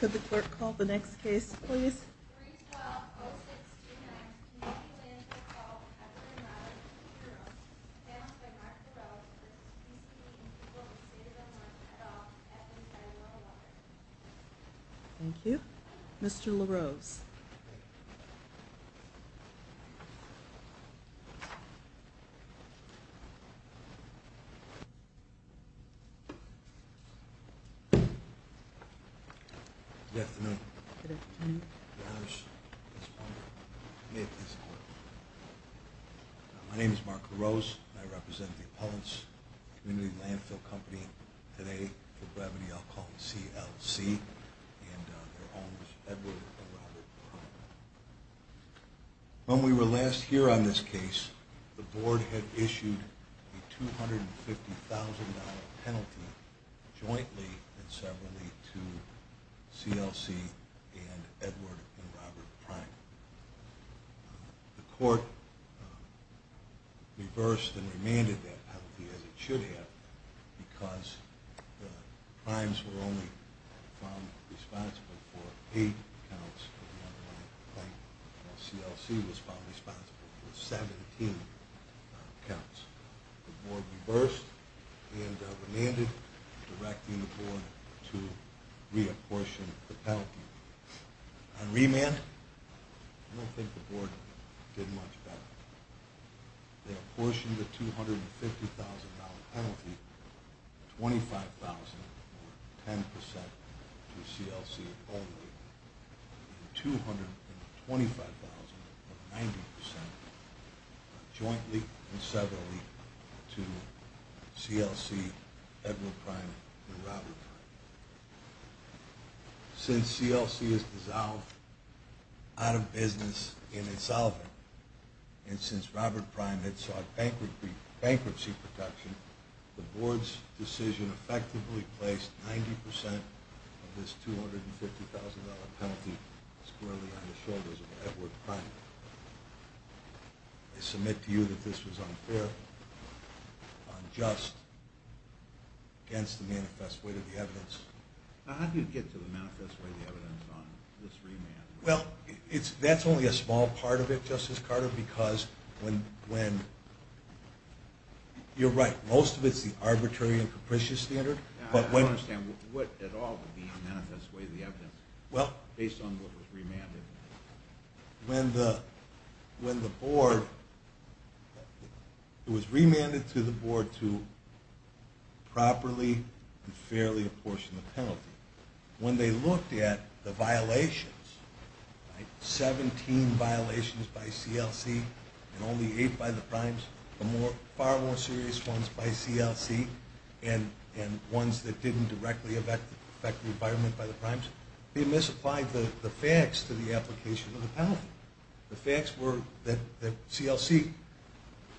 Could the clerk call the next case please? Thank you. Mr. LaRose. Good afternoon. Good afternoon. My name is Mark LaRose, and I represent the Appellants Community Landfill Company, today for gravity alcohol, CLC, and their owners, Edward and Robert Brown. When we were last here on this case, the board had issued a $250,000 penalty jointly and with CLC and Edward and Robert Prime. The court reversed and remanded that penalty, as it should have, because the Primes were only found responsible for 8 counts of the underlying claim, while CLC was found responsible for 17 counts. The board reversed and remanded, directing the board to reapportion the penalty. On remand, I don't think the board did much better. They apportioned the $250,000 penalty, 25,000 or 10%, to CLC only, and 225,000 or 90% jointly and separately to CLC, Edward Prime, and Robert Prime. Since CLC has dissolved out of business in its office, and since Robert Prime had sought bankruptcy protection, the board's decision effectively placed 90% of this $250,000 penalty squarely on the shoulders of Edward Prime. I submit to you that this was unfair, unjust, against the manifest weight of the evidence. Now, how do you get to the manifest weight of the evidence on this remand? Well, that's only a small part of it, Justice Carter, because when... You're right. Most of it's the arbitrary and capricious standard. I don't understand. What at all would be the manifest weight of the evidence, based on what was remanded? When the board... It was remanded to the board to properly and fairly apportion the penalty. When they looked at the violations, 17 violations by CLC and only 8 by the Primes, the far more serious ones by CLC and ones that didn't directly affect the environment by the Primes, they misapplied the facts to the application of the penalty. The facts were that CLC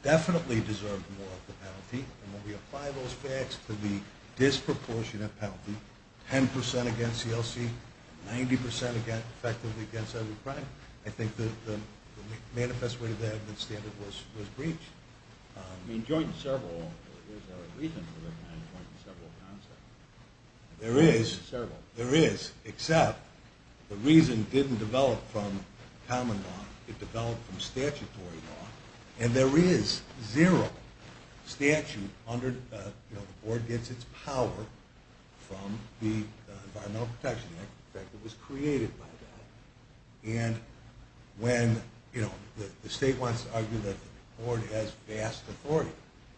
definitely deserved more of the penalty, and when we apply those facts to the disproportionate penalty, 10% against CLC, 90% effectively against Edward Prime, I think the manifest weight of the evidence standard was breached. I mean, joint and several, is there a reason for the joint and several concept? There is. Joint and several. There is, except the reason didn't develop from common law. It developed from statutory law. And there is zero statute under... The board gets its power from the Environmental Protection Act that was created by that. And when the state wants to argue that the board has vast authority,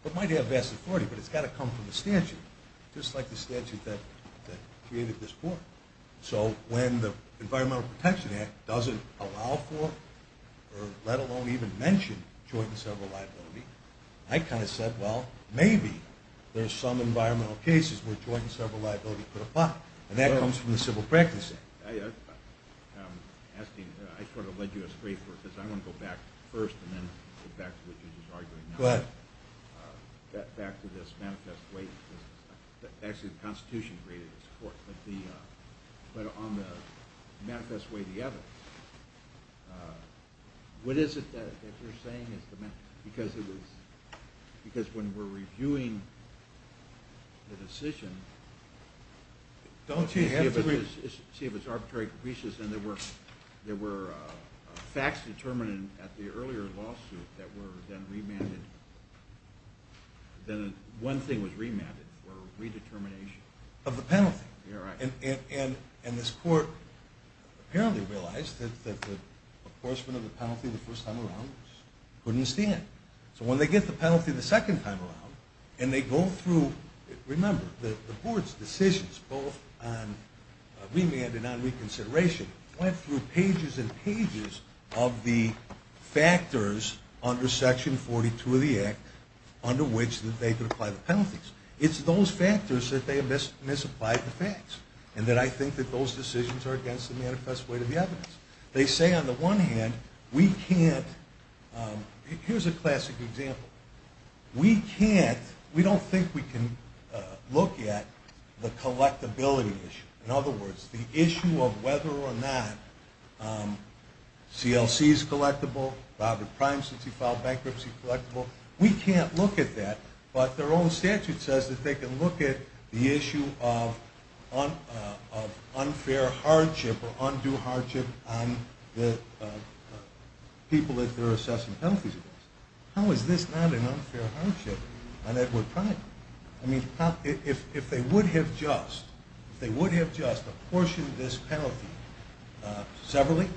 it might have vast authority, but it's got to come from the statute, just like the statute that created this board. So when the Environmental Protection Act doesn't allow for, or let alone even mention joint and several liability, I kind of said, well, maybe there's some environmental cases where joint and several liability could apply. And that comes from the Civil Practice Act. I'm asking, I sort of led you astray for a bit. I want to go back first and then go back to what you were just arguing. Go ahead. Back to this manifest weight. Actually, the Constitution created this court. But on the manifest weight of the evidence, what is it that you're saying is the matter? Because when we're reviewing the decision, see if it's arbitrary capricious, and there were facts determined at the earlier lawsuit that were then remanded. Then one thing was remanded for redetermination. Of the penalty. You're right. And this court apparently realized that the enforcement of the penalty the first time around couldn't stand. So when they get the penalty the second time around, and they go through, remember, the board's decisions both on remand and on reconsideration went through pages and pages of the factors under Section 42 of the Act under which they could apply the penalties. It's those factors that they misapplied the facts, and that I think that those decisions are against the manifest weight of the evidence. They say, on the one hand, we can't, here's a classic example. We can't, we don't think we can look at the collectability issue. In other words, the issue of whether or not CLC is collectible, Robert Prime, since he filed bankruptcy, collectible, we can't look at that. But their own statute says that they can look at the issue of unfair hardship or undue hardship on the people that they're assessing penalties against. How is this not an unfair hardship on Edward Prime? I mean, if they would have just, if they would have just apportioned this penalty severally,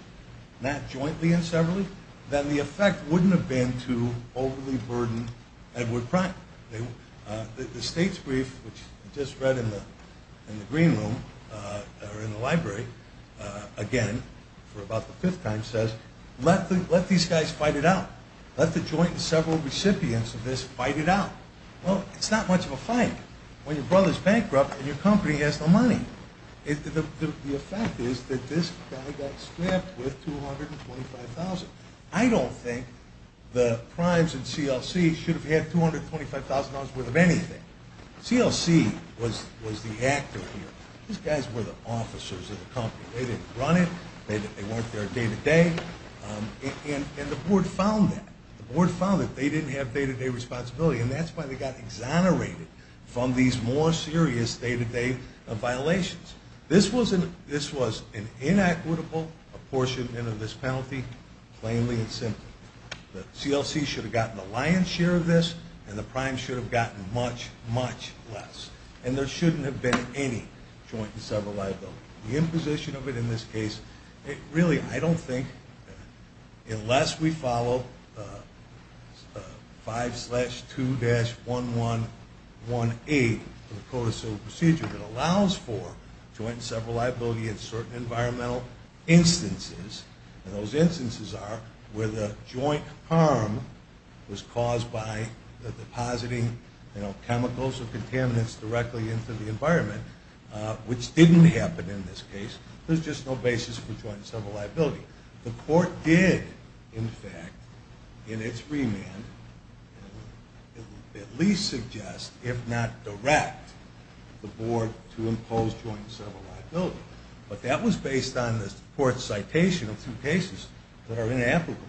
not jointly and severally, then the effect wouldn't have been to overly burden Edward Prime. The state's brief, which I just read in the Green Room, or in the library, again, for about the fifth time, says, let these guys fight it out. Let the joint and several recipients of this fight it out. Well, it's not much of a fight when your brother's bankrupt and your company has no money. The fact is that this guy got strapped with $225,000. I don't think the Primes and CLC should have had $225,000 worth of anything. CLC was the actor here. These guys were the officers of the company. They didn't run it. They weren't there day to day. And the board found that. The board found that they didn't have day to day responsibility, and that's why they got exonerated from these more serious day to day violations. This was an inequitable apportionment of this penalty, plainly and simply. The CLC should have gotten the lion's share of this, and the Primes should have gotten much, much less. And there shouldn't have been any joint and several liability. The imposition of it in this case, I don't think unless we follow 5-2-1118, the code of civil procedure that allows for joint and several liability in certain environmental instances, and those instances are where the joint harm was caused by the depositing chemicals or contaminants directly into the environment, which didn't happen in this case. There's just no basis for joint and several liability. The court did, in fact, in its remand, at least suggest, if not direct, the board to impose joint and several liability. But that was based on the court's citation of two cases that are inapplicable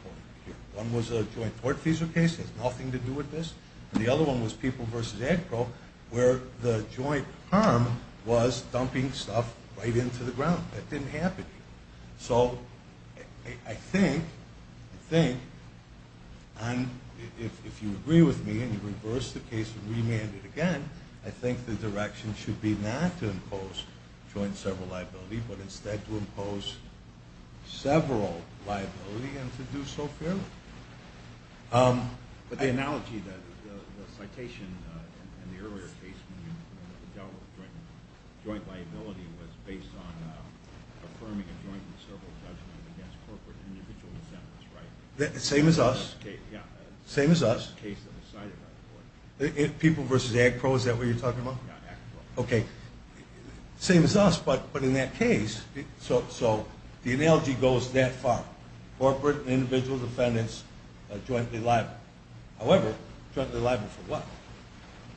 here. One was a joint court-feasible case. It has nothing to do with this. And the other one was People v. Agpro, where the joint harm was dumping stuff right into the ground. That didn't happen here. So I think, if you agree with me and you reverse the case and remand it again, I think the direction should be not to impose joint and several liability, but instead to impose several liability and to do so fairly. But the analogy, the citation in the earlier case when you dealt with joint liability was based on affirming a joint and several judgment against corporate individual defendants, right? Same as us. Yeah. Same as us. The case that was cited, by the way. People v. Agpro, is that what you're talking about? Yeah, Agpro. Okay. Same as us, but in that case. So the analogy goes that far. Corporate individual defendants jointly liable. However, jointly liable for what?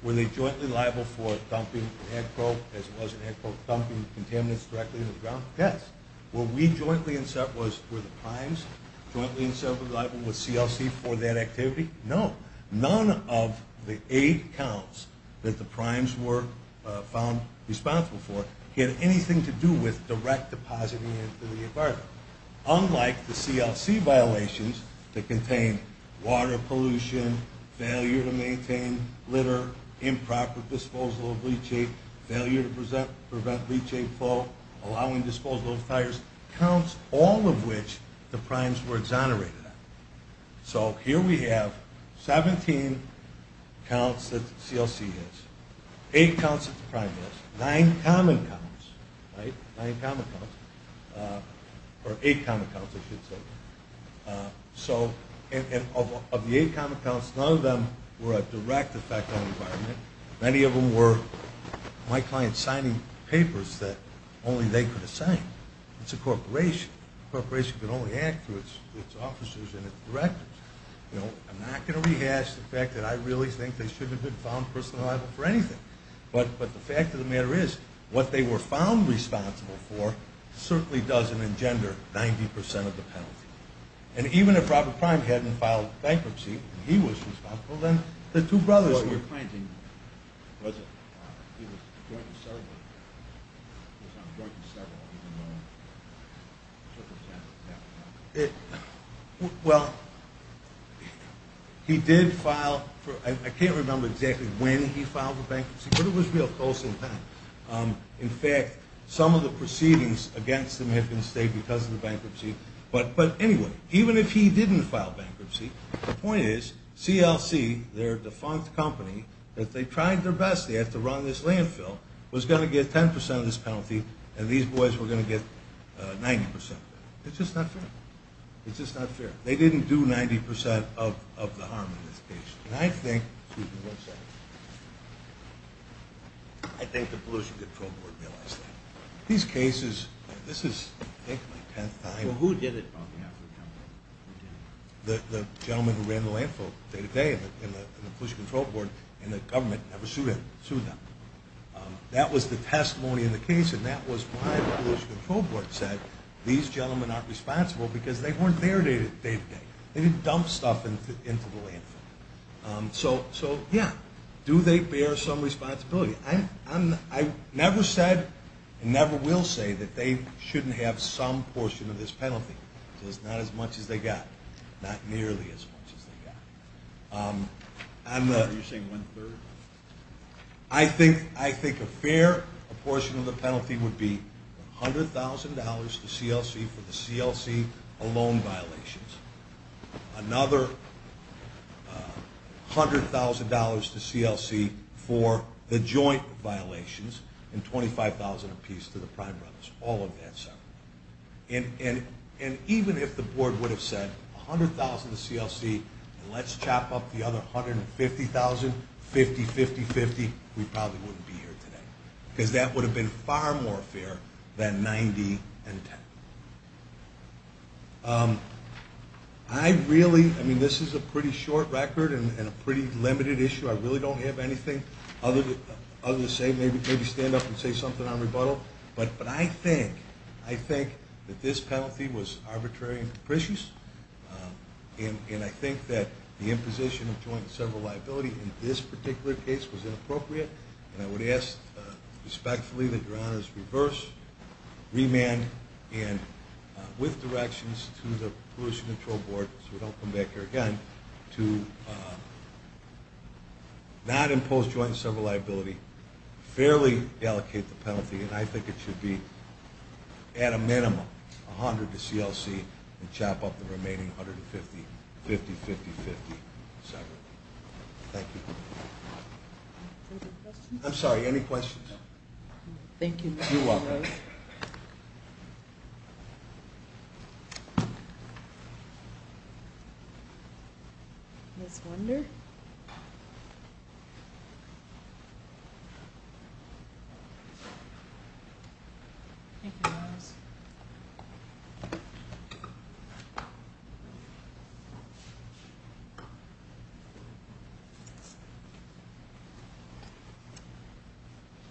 Were they jointly liable for dumping Agpro, as it was in Agpro, dumping contaminants directly into the ground? Yes. Were we jointly and several, were the primes jointly and several liable with CLC for that activity? No. None of the eight counts that the primes were found responsible for had anything to do with direct depositing into the environment. Unlike the CLC violations that contain water pollution, failure to maintain litter, improper disposal of leachate, failure to prevent leachate flow, allowing disposal of tires, counts all of which the primes were exonerated on. So here we have 17 counts that the CLC has, eight counts that the prime has, nine common counts, right? Nine common counts. Or eight common counts, I should say. So of the eight common counts, none of them were a direct effect on the environment. Many of them were my clients signing papers that only they could assign. It's a corporation. A corporation can only act through its officers and its directors. I'm not going to rehash the fact that I really think they shouldn't have been found personally liable for anything. But the fact of the matter is, what they were found responsible for certainly doesn't engender 90% of the penalty. And even if Robert Prime hadn't filed bankruptcy and he was responsible, then the two brothers were. What were you finding? He was a joint in several. He was on a joint in several, even though he took his time. Well, he did file for, I can't remember exactly when he filed for bankruptcy, but it was real close in time. In fact, some of the proceedings against him have been stayed because of the bankruptcy. But anyway, even if he didn't file bankruptcy, the point is, CLC, their defunct company, that they tried their best at to run this landfill, was going to get 10% of this penalty, and these boys were going to get 90%. It's just not fair. It's just not fair. They didn't do 90% of the harm in this case. And I think, excuse me one second, I think the Pollution Control Board realized that. These cases, this is, I think, my 10th time. Well, who did it on behalf of the company? Who did it? The gentleman who ran the landfill day-to-day in the Pollution Control Board, and the government never sued him. That was the testimony in the case, and that was why the Pollution Control Board said these gentlemen aren't responsible because they weren't there day-to-day. They didn't dump stuff into the landfill. So, yeah, do they bear some responsibility? I never said and never will say that they shouldn't have some portion of this penalty. It's not as much as they got. Not nearly as much as they got. Are you saying one-third? I think a fair portion of the penalty would be $100,000 to CLC for the CLC alone violations, another $100,000 to CLC for the joint violations, and $25,000 apiece to the Prime Brothers, all of that. And even if the board would have said $100,000 to CLC and let's chop up the other $150,000, $50,000, $50,000, $50,000, we probably wouldn't be here today because that would have been far more fair than $90,000 and $10,000. I really, I mean, this is a pretty short record and a pretty limited issue. I really don't have anything other to say. Maybe stand up and say something on rebuttal. But I think that this penalty was arbitrary and capricious, and I think that the imposition of joint and several liability in this particular case was inappropriate, and I would ask respectfully that your honors reverse, remand, and with directions to the Pollution Control Board, so we don't come back here again, to not impose joint and several liability, fairly allocate the penalty, and I think it should be at a minimum $100,000 to CLC and chop up the remaining $150,000, $50,000, $50,000, $50,000 separately. Thank you. I'm sorry, any questions? Thank you. You're welcome. Ms. Wunder? Thank you, your honors.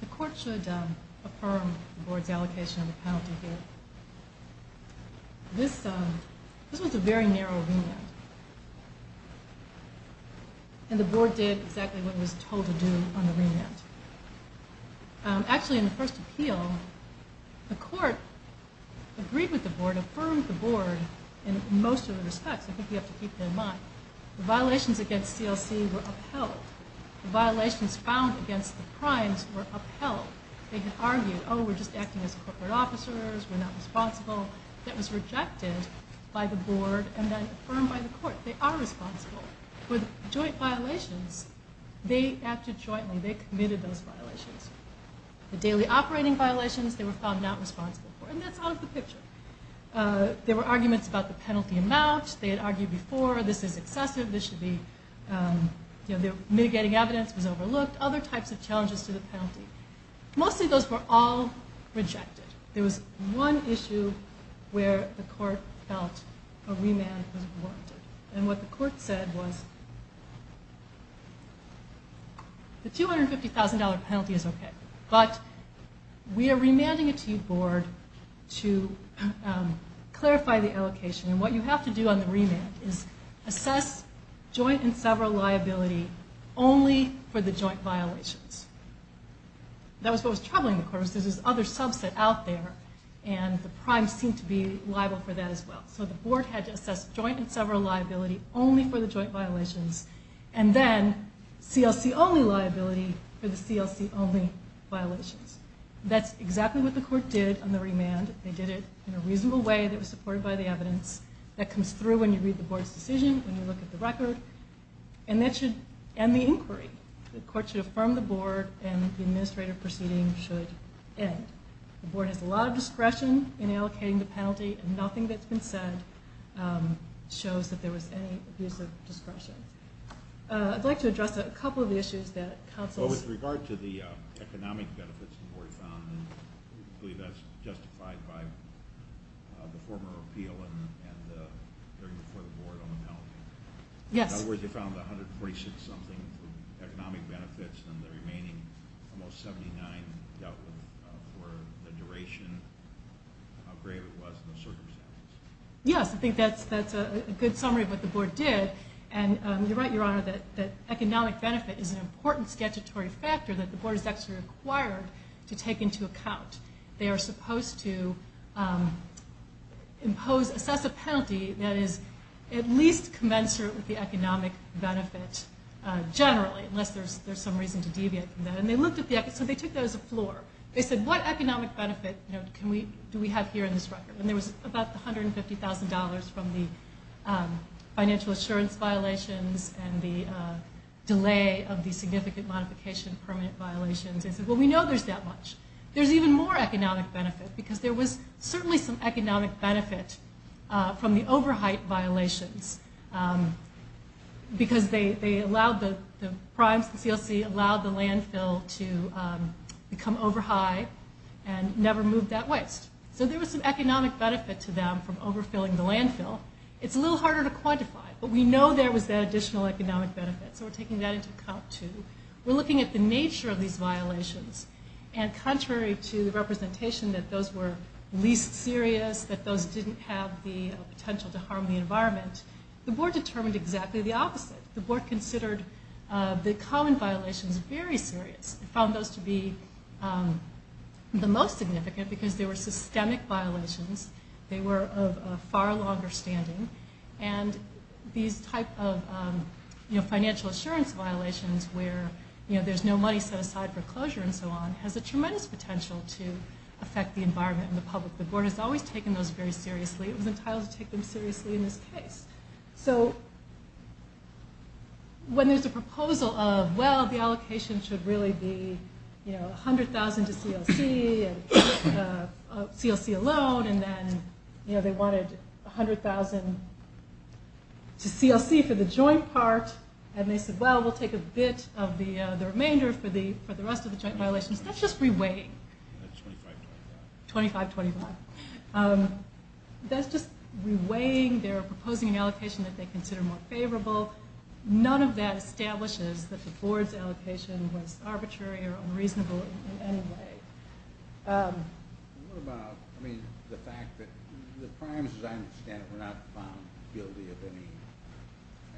The court should affirm the board's allocation of the penalty here. This was a very narrow remand, and the board did exactly what it was told to do on the remand. Actually, in the first appeal, the court agreed with the board, affirmed the board in most of the respects. I think you have to keep that in mind. The violations against CLC were upheld. The violations found against the crimes were upheld. They had argued, oh, we're just acting as corporate officers, we're not responsible. That was rejected by the board and then affirmed by the court. They are responsible for the joint violations. They acted jointly. They committed those violations. The daily operating violations, they were found not responsible for. And that's out of the picture. There were arguments about the penalty amount. They had argued before, this is excessive, this should be, mitigating evidence was overlooked, other types of challenges to the penalty. Mostly those were all rejected. There was one issue where the court felt a remand was warranted. And what the court said was, the $250,000 penalty is okay, but we are remanding it to you, board, to clarify the allocation. And what you have to do on the remand is assess joint and several liability only for the joint violations. That was what was troubling the court, because there's this other subset out there, and the crimes seem to be liable for that as well. So the board had to assess joint and several liability only for the joint violations, and then CLC-only liability for the CLC-only violations. That's exactly what the court did on the remand. They did it in a reasonable way that was supported by the evidence. That comes through when you read the board's decision, when you look at the record. And that should end the inquiry. The court should affirm the board, and the administrative proceeding should end. The board has a lot of discretion in allocating the penalty, and nothing that's been said shows that there was any abuse of discretion. I'd like to address a couple of the issues that counsels... Well, with regard to the economic benefits the board found, I believe that's justified by the former appeal and the hearing before the board on the penalty. Yes. In other words, they found 146-something economic benefits, and the remaining almost 79 dealt with for the duration, how great it was in those circumstances. Yes, I think that's a good summary of what the board did. And you're right, Your Honor, that economic benefit is an important statutory factor that the board is actually required to take into account. They are supposed to impose, assess a penalty that is at least commensurate with the economic benefit generally, unless there's some reason to deviate from that. So they took that as a floor. They said, what economic benefit do we have here in this record? And there was about $150,000 from the financial assurance violations and the delay of the significant modification of permanent violations. They said, well, we know there's that much. There's even more economic benefit, because there was certainly some economic benefit from the over-height violations, because they allowed the primes, the CLC, allowed the landfill to become over-high and never move that waste. So there was some economic benefit to them from over-filling the landfill. It's a little harder to quantify, but we know there was that additional economic benefit, so we're taking that into account, too. We're looking at the nature of these violations, and contrary to the representation that those were least serious, that those didn't have the potential to harm the environment, the board determined exactly the opposite. The board considered the common violations very serious. It found those to be the most significant because they were systemic violations. They were of a far longer standing. And these type of financial assurance violations where there's no money set aside for closure and so on has a tremendous potential to affect the environment and the public. The board has always taken those very seriously. It was entitled to take them seriously in this case. So when there's a proposal of, well, the allocation should really be $100,000 to CLC alone, and then they wanted $100,000 to CLC for the joint part, and they said, well, that will take a bit of the remainder for the rest of the joint violations. That's just re-weighing. That's $25,000. $25,000, $25,000. That's just re-weighing. They're proposing an allocation that they consider more favorable. None of that establishes that the board's allocation was arbitrary or unreasonable in any way. What about, I mean, the fact that the primes, as I understand it, were not found guilty of any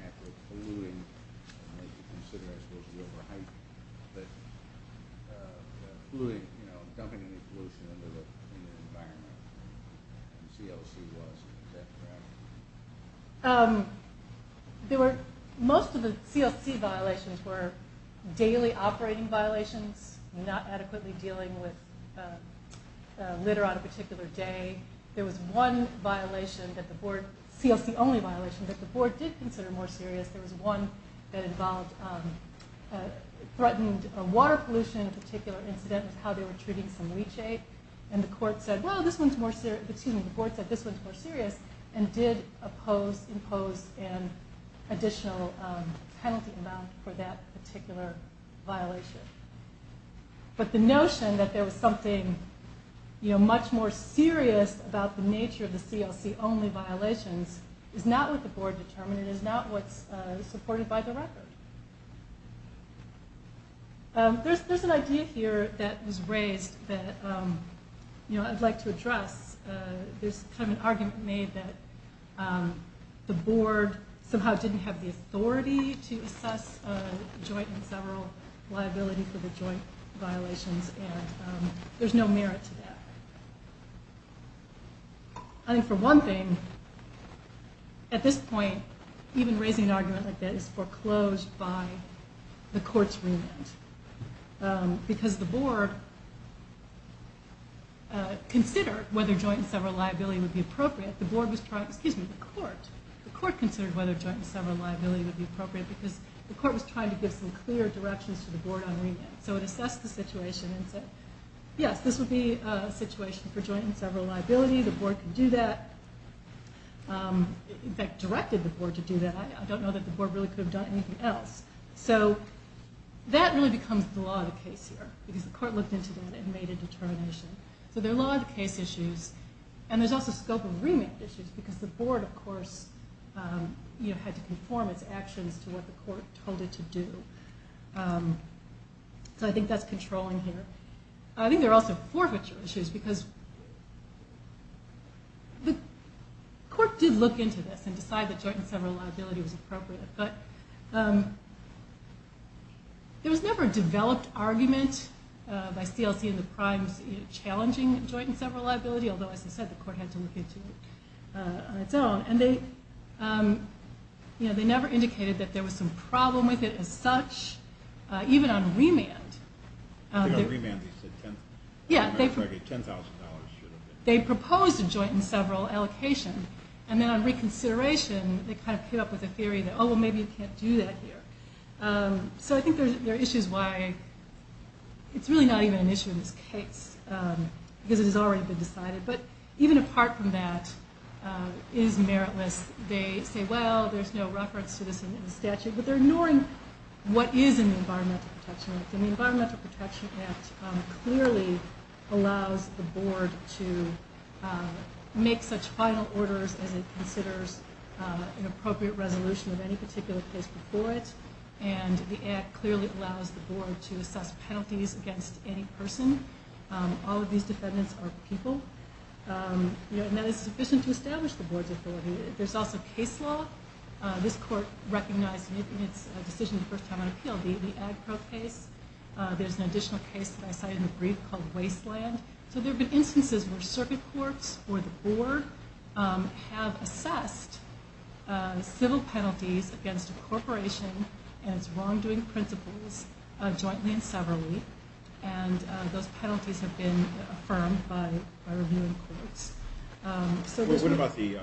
act of polluting? I'm going to have to consider I'm supposed to be over-hyping, but polluting, you know, dumping any pollution into the environment, and CLC was. Is that correct? There were most of the CLC violations were daily operating violations, not adequately dealing with litter on a particular day. There was one violation that the board, CLC-only violation, that the board did consider more serious. There was one that involved threatened water pollution in a particular incident with how they were treating some leachate, and the court said, well, this one's more serious. And did impose an additional penalty amount for that particular violation. But the notion that there was something much more serious about the nature of the CLC-only violations is not what the board determined and is not what's supported by the record. There's an idea here that was raised that, you know, I'd like to address. There's kind of an argument made that the board somehow didn't have the authority to assess joint and several liability for the joint violations, and there's no merit to that. I think for one thing, at this point, even raising an argument like that is foreclosed by the court's remand, because the board considered whether joint and several liability would be appropriate. The board was trying, excuse me, the court. The court considered whether joint and several liability would be appropriate because the court was trying to give some clear directions to the board on remand. So it assessed the situation and said, yes, this would be a situation for joint and several liability. The board could do that. In fact, directed the board to do that. I don't know that the board really could have done anything else. So that really becomes the law of the case here, because the court looked into that and made a determination. So there are law of the case issues, and there's also scope of remand issues, because the board, of course, had to conform its actions to what the court told it to do. So I think that's controlling here. I think there are also forfeiture issues, because the court did look into this and decide that joint and several liability was appropriate. But there was never a developed argument by CLC and the primes challenging joint and several liability, although, as I said, the court had to look into it on its own. And they never indicated that there was some problem with it as such, even on remand. I think on remand they said $10,000 should have been. They proposed a joint and several allocation, and then on reconsideration, they kind of came up with a theory that, oh, well, maybe you can't do that here. So I think there are issues why it's really not even an issue in this case, because it has already been decided. But even apart from that, it is meritless. They say, well, there's no reference to this in the statute, but they're ignoring what is in the Environmental Protection Act. And the Environmental Protection Act clearly allows the board to make such final orders as it considers an appropriate resolution of any particular case before it. And the act clearly allows the board to assess penalties against any person. All of these defendants are people. And that is sufficient to establish the board's authority. There's also case law. This court recognized in its decision the first time on appeal, the Agpro case. There's an additional case that I cited in the brief called Wasteland. So there have been instances where circuit courts or the board have assessed civil penalties against a corporation and its wrongdoing principles jointly and severally. And those penalties have been affirmed by reviewing courts. What about the,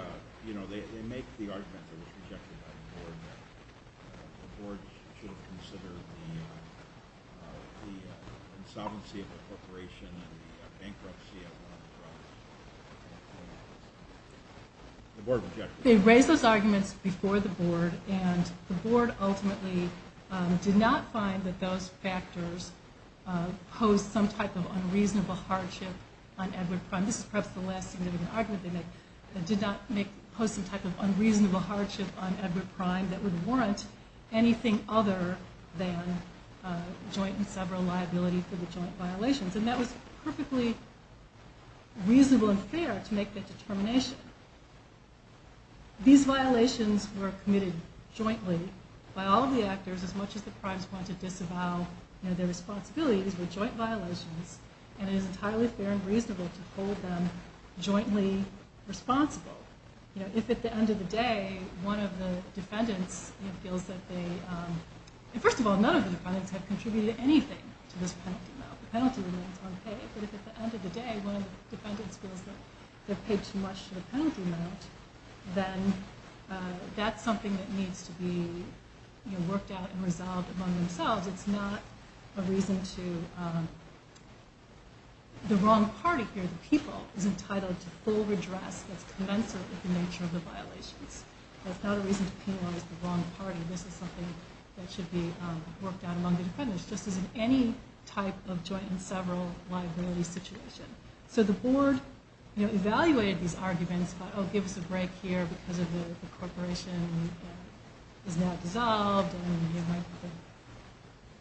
you know, they make the argument that was rejected by the board that the board should have considered the insolvency of the corporation and the bankruptcy as one of the problems. The board rejected it. They raised those arguments before the board, and the board ultimately did not find that those factors posed some type of unreasonable hardship on Edward Prime. This is perhaps the last significant argument they make. They did not pose some type of unreasonable hardship on Edward Prime that would warrant anything other than joint and several liability for the joint violations. And that was perfectly reasonable and fair to make that determination. These violations were committed jointly by all of the actors as much as the primes want to disavow their responsibilities with joint violations. And it is entirely fair and reasonable to hold them jointly responsible. You know, if at the end of the day one of the defendants feels that they, first of all, none of the defendants have contributed anything to this penalty amount. The penalty remains unpaid. But if at the end of the day one of the defendants feels that they've paid too much to the penalty amount, then that's something that needs to be worked out and resolved among themselves. It's not a reason to, the wrong party here, the people, is entitled to full redress that's commensurate with the nature of the violations. That's not a reason to penalize the wrong party. This is something that should be worked out among the defendants, just as in any type of joint and several liability situation. So the board, you know, evaluated these arguments, thought, oh, give us a break here because the corporation is now dissolved and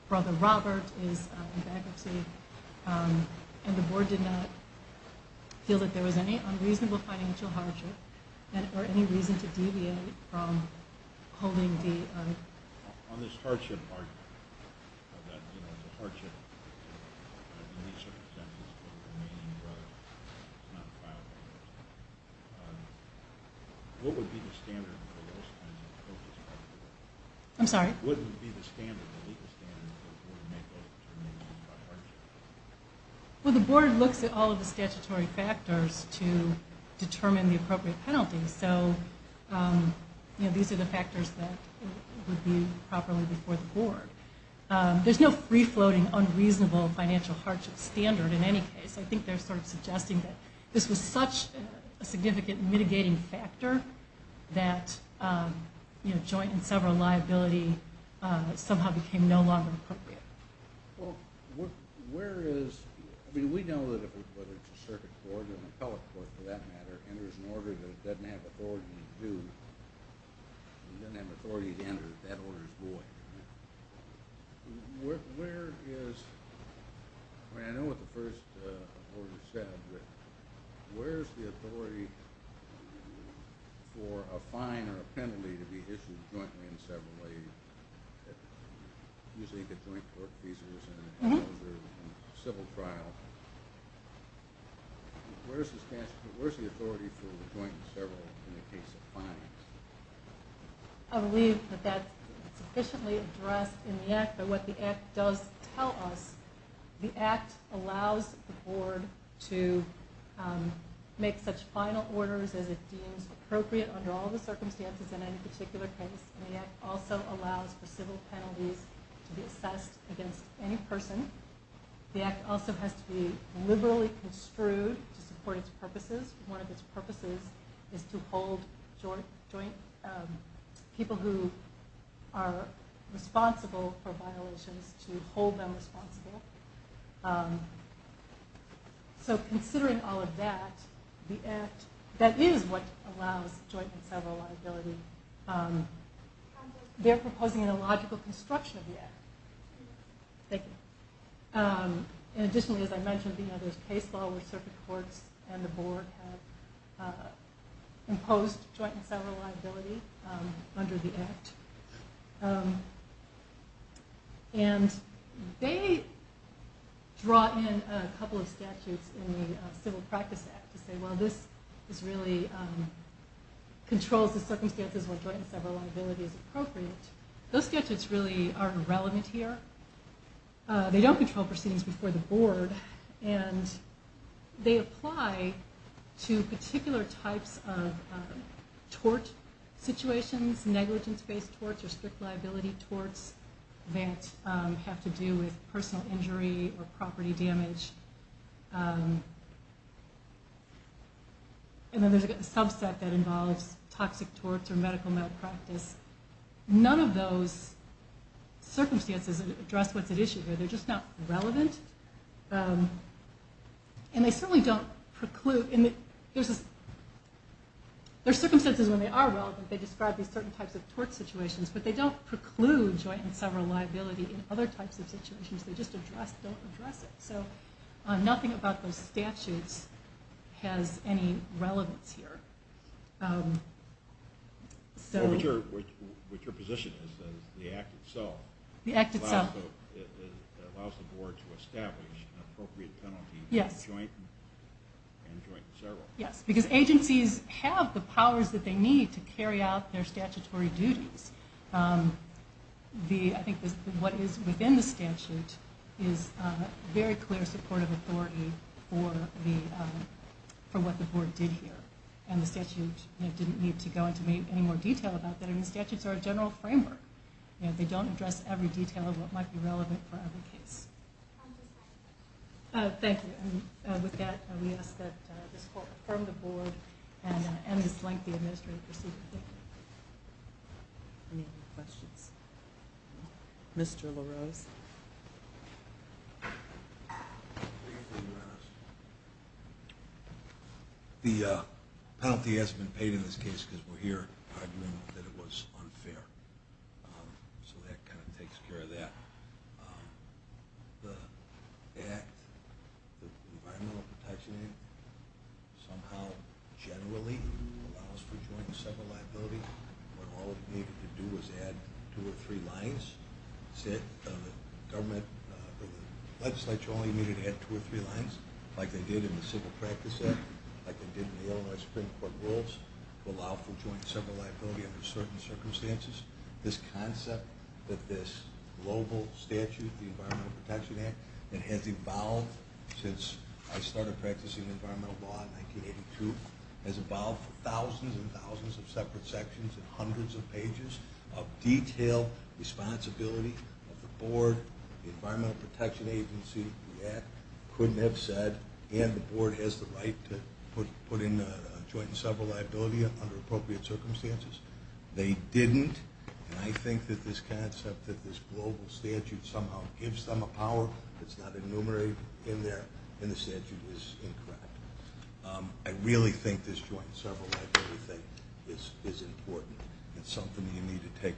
Brother Robert is in bankruptcy. And the board did not feel that there was any unreasonable financial hardship or any reason to deviate from holding the… On this hardship argument, that, you know, it's a hardship in these circumstances but the remaining brother is not found. What would be the standard for those kinds of cases? I'm sorry? What would be the standard, the legal standard for the board to make those determinations about hardship? Well, the board looks at all of the statutory factors to determine the appropriate penalties. So, you know, these are the factors that would be properly before the board. There's no free-floating, unreasonable financial hardship standard in any case. I think they're sort of suggesting that this was such a significant mitigating factor that, you know, joint and several liability somehow became no longer appropriate. Well, where is… I mean, we know that whether it's a circuit court or an appellate court, for that matter, enters an order that it doesn't have authority to do, it doesn't have authority to enter, that order is void. Where is… I mean, I know what the first order said, but where is the authority for a fine or a penalty to be issued jointly and severally? You think a joint court cases and civil trial. Where is the authority for a joint and several in the case of fines? I believe that that's sufficiently addressed in the Act. But what the Act does tell us, the Act allows the board to make such final orders as it deems appropriate under all the circumstances in any particular case. And the Act also allows for civil penalties to be assessed against any person. The Act also has to be liberally construed to support its purposes. One of its purposes is to hold joint… people who are responsible for violations to hold them responsible. So considering all of that, the Act… that is what allows joint and several liability. They're proposing a logical construction of the Act. Thank you. Additionally, as I mentioned, there's case law where circuit courts and the board have imposed joint and several liability under the Act. And they draw in a couple of statutes in the Civil Practice Act to say, well, this really controls the circumstances where joint and several liability is appropriate. Those statutes really aren't relevant here. They don't control proceedings before the board. And they apply to particular types of tort situations, negligence-based torts or strict liability torts that have to do with personal injury or property damage. And then there's a subset that involves toxic torts or medical malpractice. None of those circumstances address what's at issue here. They're just not relevant. And they certainly don't preclude… There are circumstances when they are relevant. They describe these certain types of tort situations, but they don't preclude joint and several liability in other types of situations. They just don't address it. So nothing about those statutes has any relevance here. What your position is is the Act itself allows the board to establish an appropriate penalty for joint and several. Yes, because agencies have the powers that they need to carry out their statutory duties. I think what is within the statute is very clear support of authority for what the board did here. And the statute didn't need to go into any more detail about that. And the statutes are a general framework. They don't address every detail of what might be relevant for every case. Thank you. With that, we ask that this court affirm the board and this lengthy administrative procedure. Any other questions? Mr. LaRose. The penalty hasn't been paid in this case because we're here arguing that it was unfair. So that kind of takes care of that. The Act, the Environmental Protection Act, somehow generally allows for joint and several liability. What all it needed to do was add two or three lines. The legislature only needed to add two or three lines, like they did in the Civil Practice Act, like they did in the Illinois Supreme Court rules, to allow for joint and several liability under certain circumstances. This concept that this global statute, the Environmental Protection Act, that has evolved since I started practicing environmental law in 1982, has evolved for thousands and thousands of separate sections and hundreds of pages of detailed responsibility of the board, the Environmental Protection Agency, the Act, couldn't have said, and the board has the right to put in a joint and several liability under appropriate circumstances. They didn't. And I think that this concept that this global statute somehow gives them a power that's not enumerated in there in the statute is incorrect. I really think this joint and several liability thing is important. It's something you need to take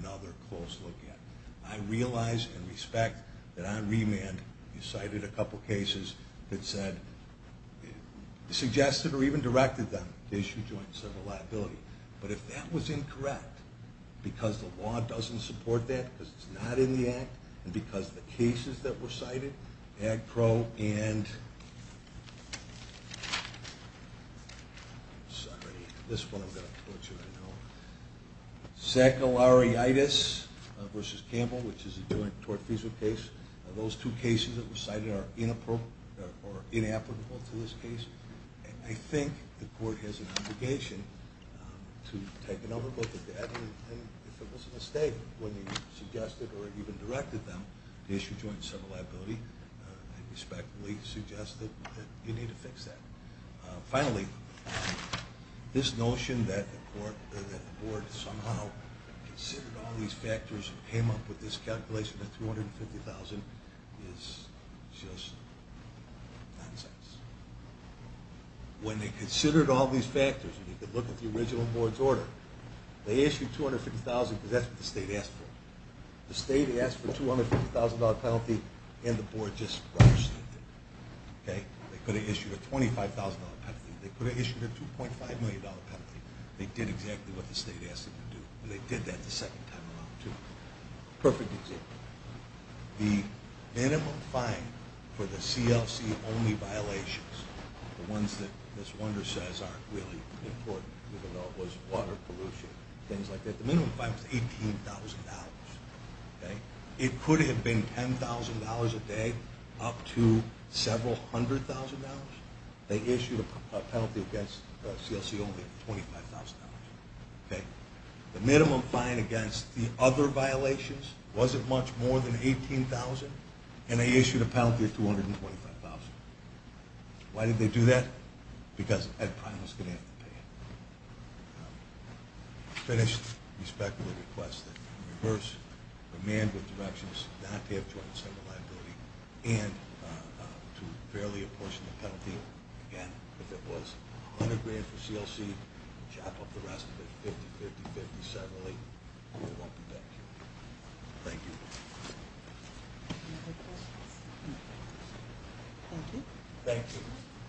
another close look at. I realize and respect that on remand you cited a couple cases that said, suggested or even directed them to issue joint and several liability. But if that was incorrect because the law doesn't support that, because it's not in the Act, and because the cases that were cited, AGPRO and, sorry, this one I'm going to quote you right now, saccharitis versus Campbell, which is a joint tort-feasible case, those two cases that were cited are inappropriate or inapplicable to this case. I think the court has an obligation to take another look at that and if it was a mistake when you suggested or even directed them to issue joint and several liability, I respectfully suggest that you need to fix that. Finally, this notion that the board somehow considered all these factors and came up with this calculation of $350,000 is just nonsense. When they considered all these factors and they could look at the original board's order, they issued $250,000 because that's what the state asked for. The state asked for a $250,000 penalty and the board just rushed it. They could have issued a $25,000 penalty. They could have issued a $2.5 million penalty. They did exactly what the state asked them to do, and they did that the second time around too. Perfect example. The minimum fine for the CLC-only violations, the ones that Ms. Wunder says aren't really important, even though it was water pollution and things like that, the minimum fine was $18,000. It could have been $10,000 a day up to several hundred thousand dollars. They issued a penalty against CLC-only of $25,000. The minimum fine against the other violations wasn't much more than $18,000 and they issued a penalty of $225,000. Why did they do that? Because Ed Pine was going to have to pay it. Finished. Respectfully request that we reverse command with directions not to have joint incentive liability and to fairly apportion the penalty. Again, if it was $100,000 for CLC, chop up the rest of it $50,000, $50,000, $50,000 separately, and we won't be back here. Thank you. Any other questions? Thank you. Thank you.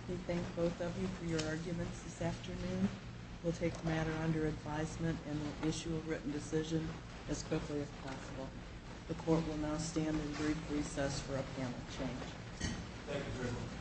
We thank both of you for your arguments this afternoon. We'll take the matter under advisement and we'll issue a written decision as quickly as possible. The court will now stand in brief recess for a panel change. Thank you very much.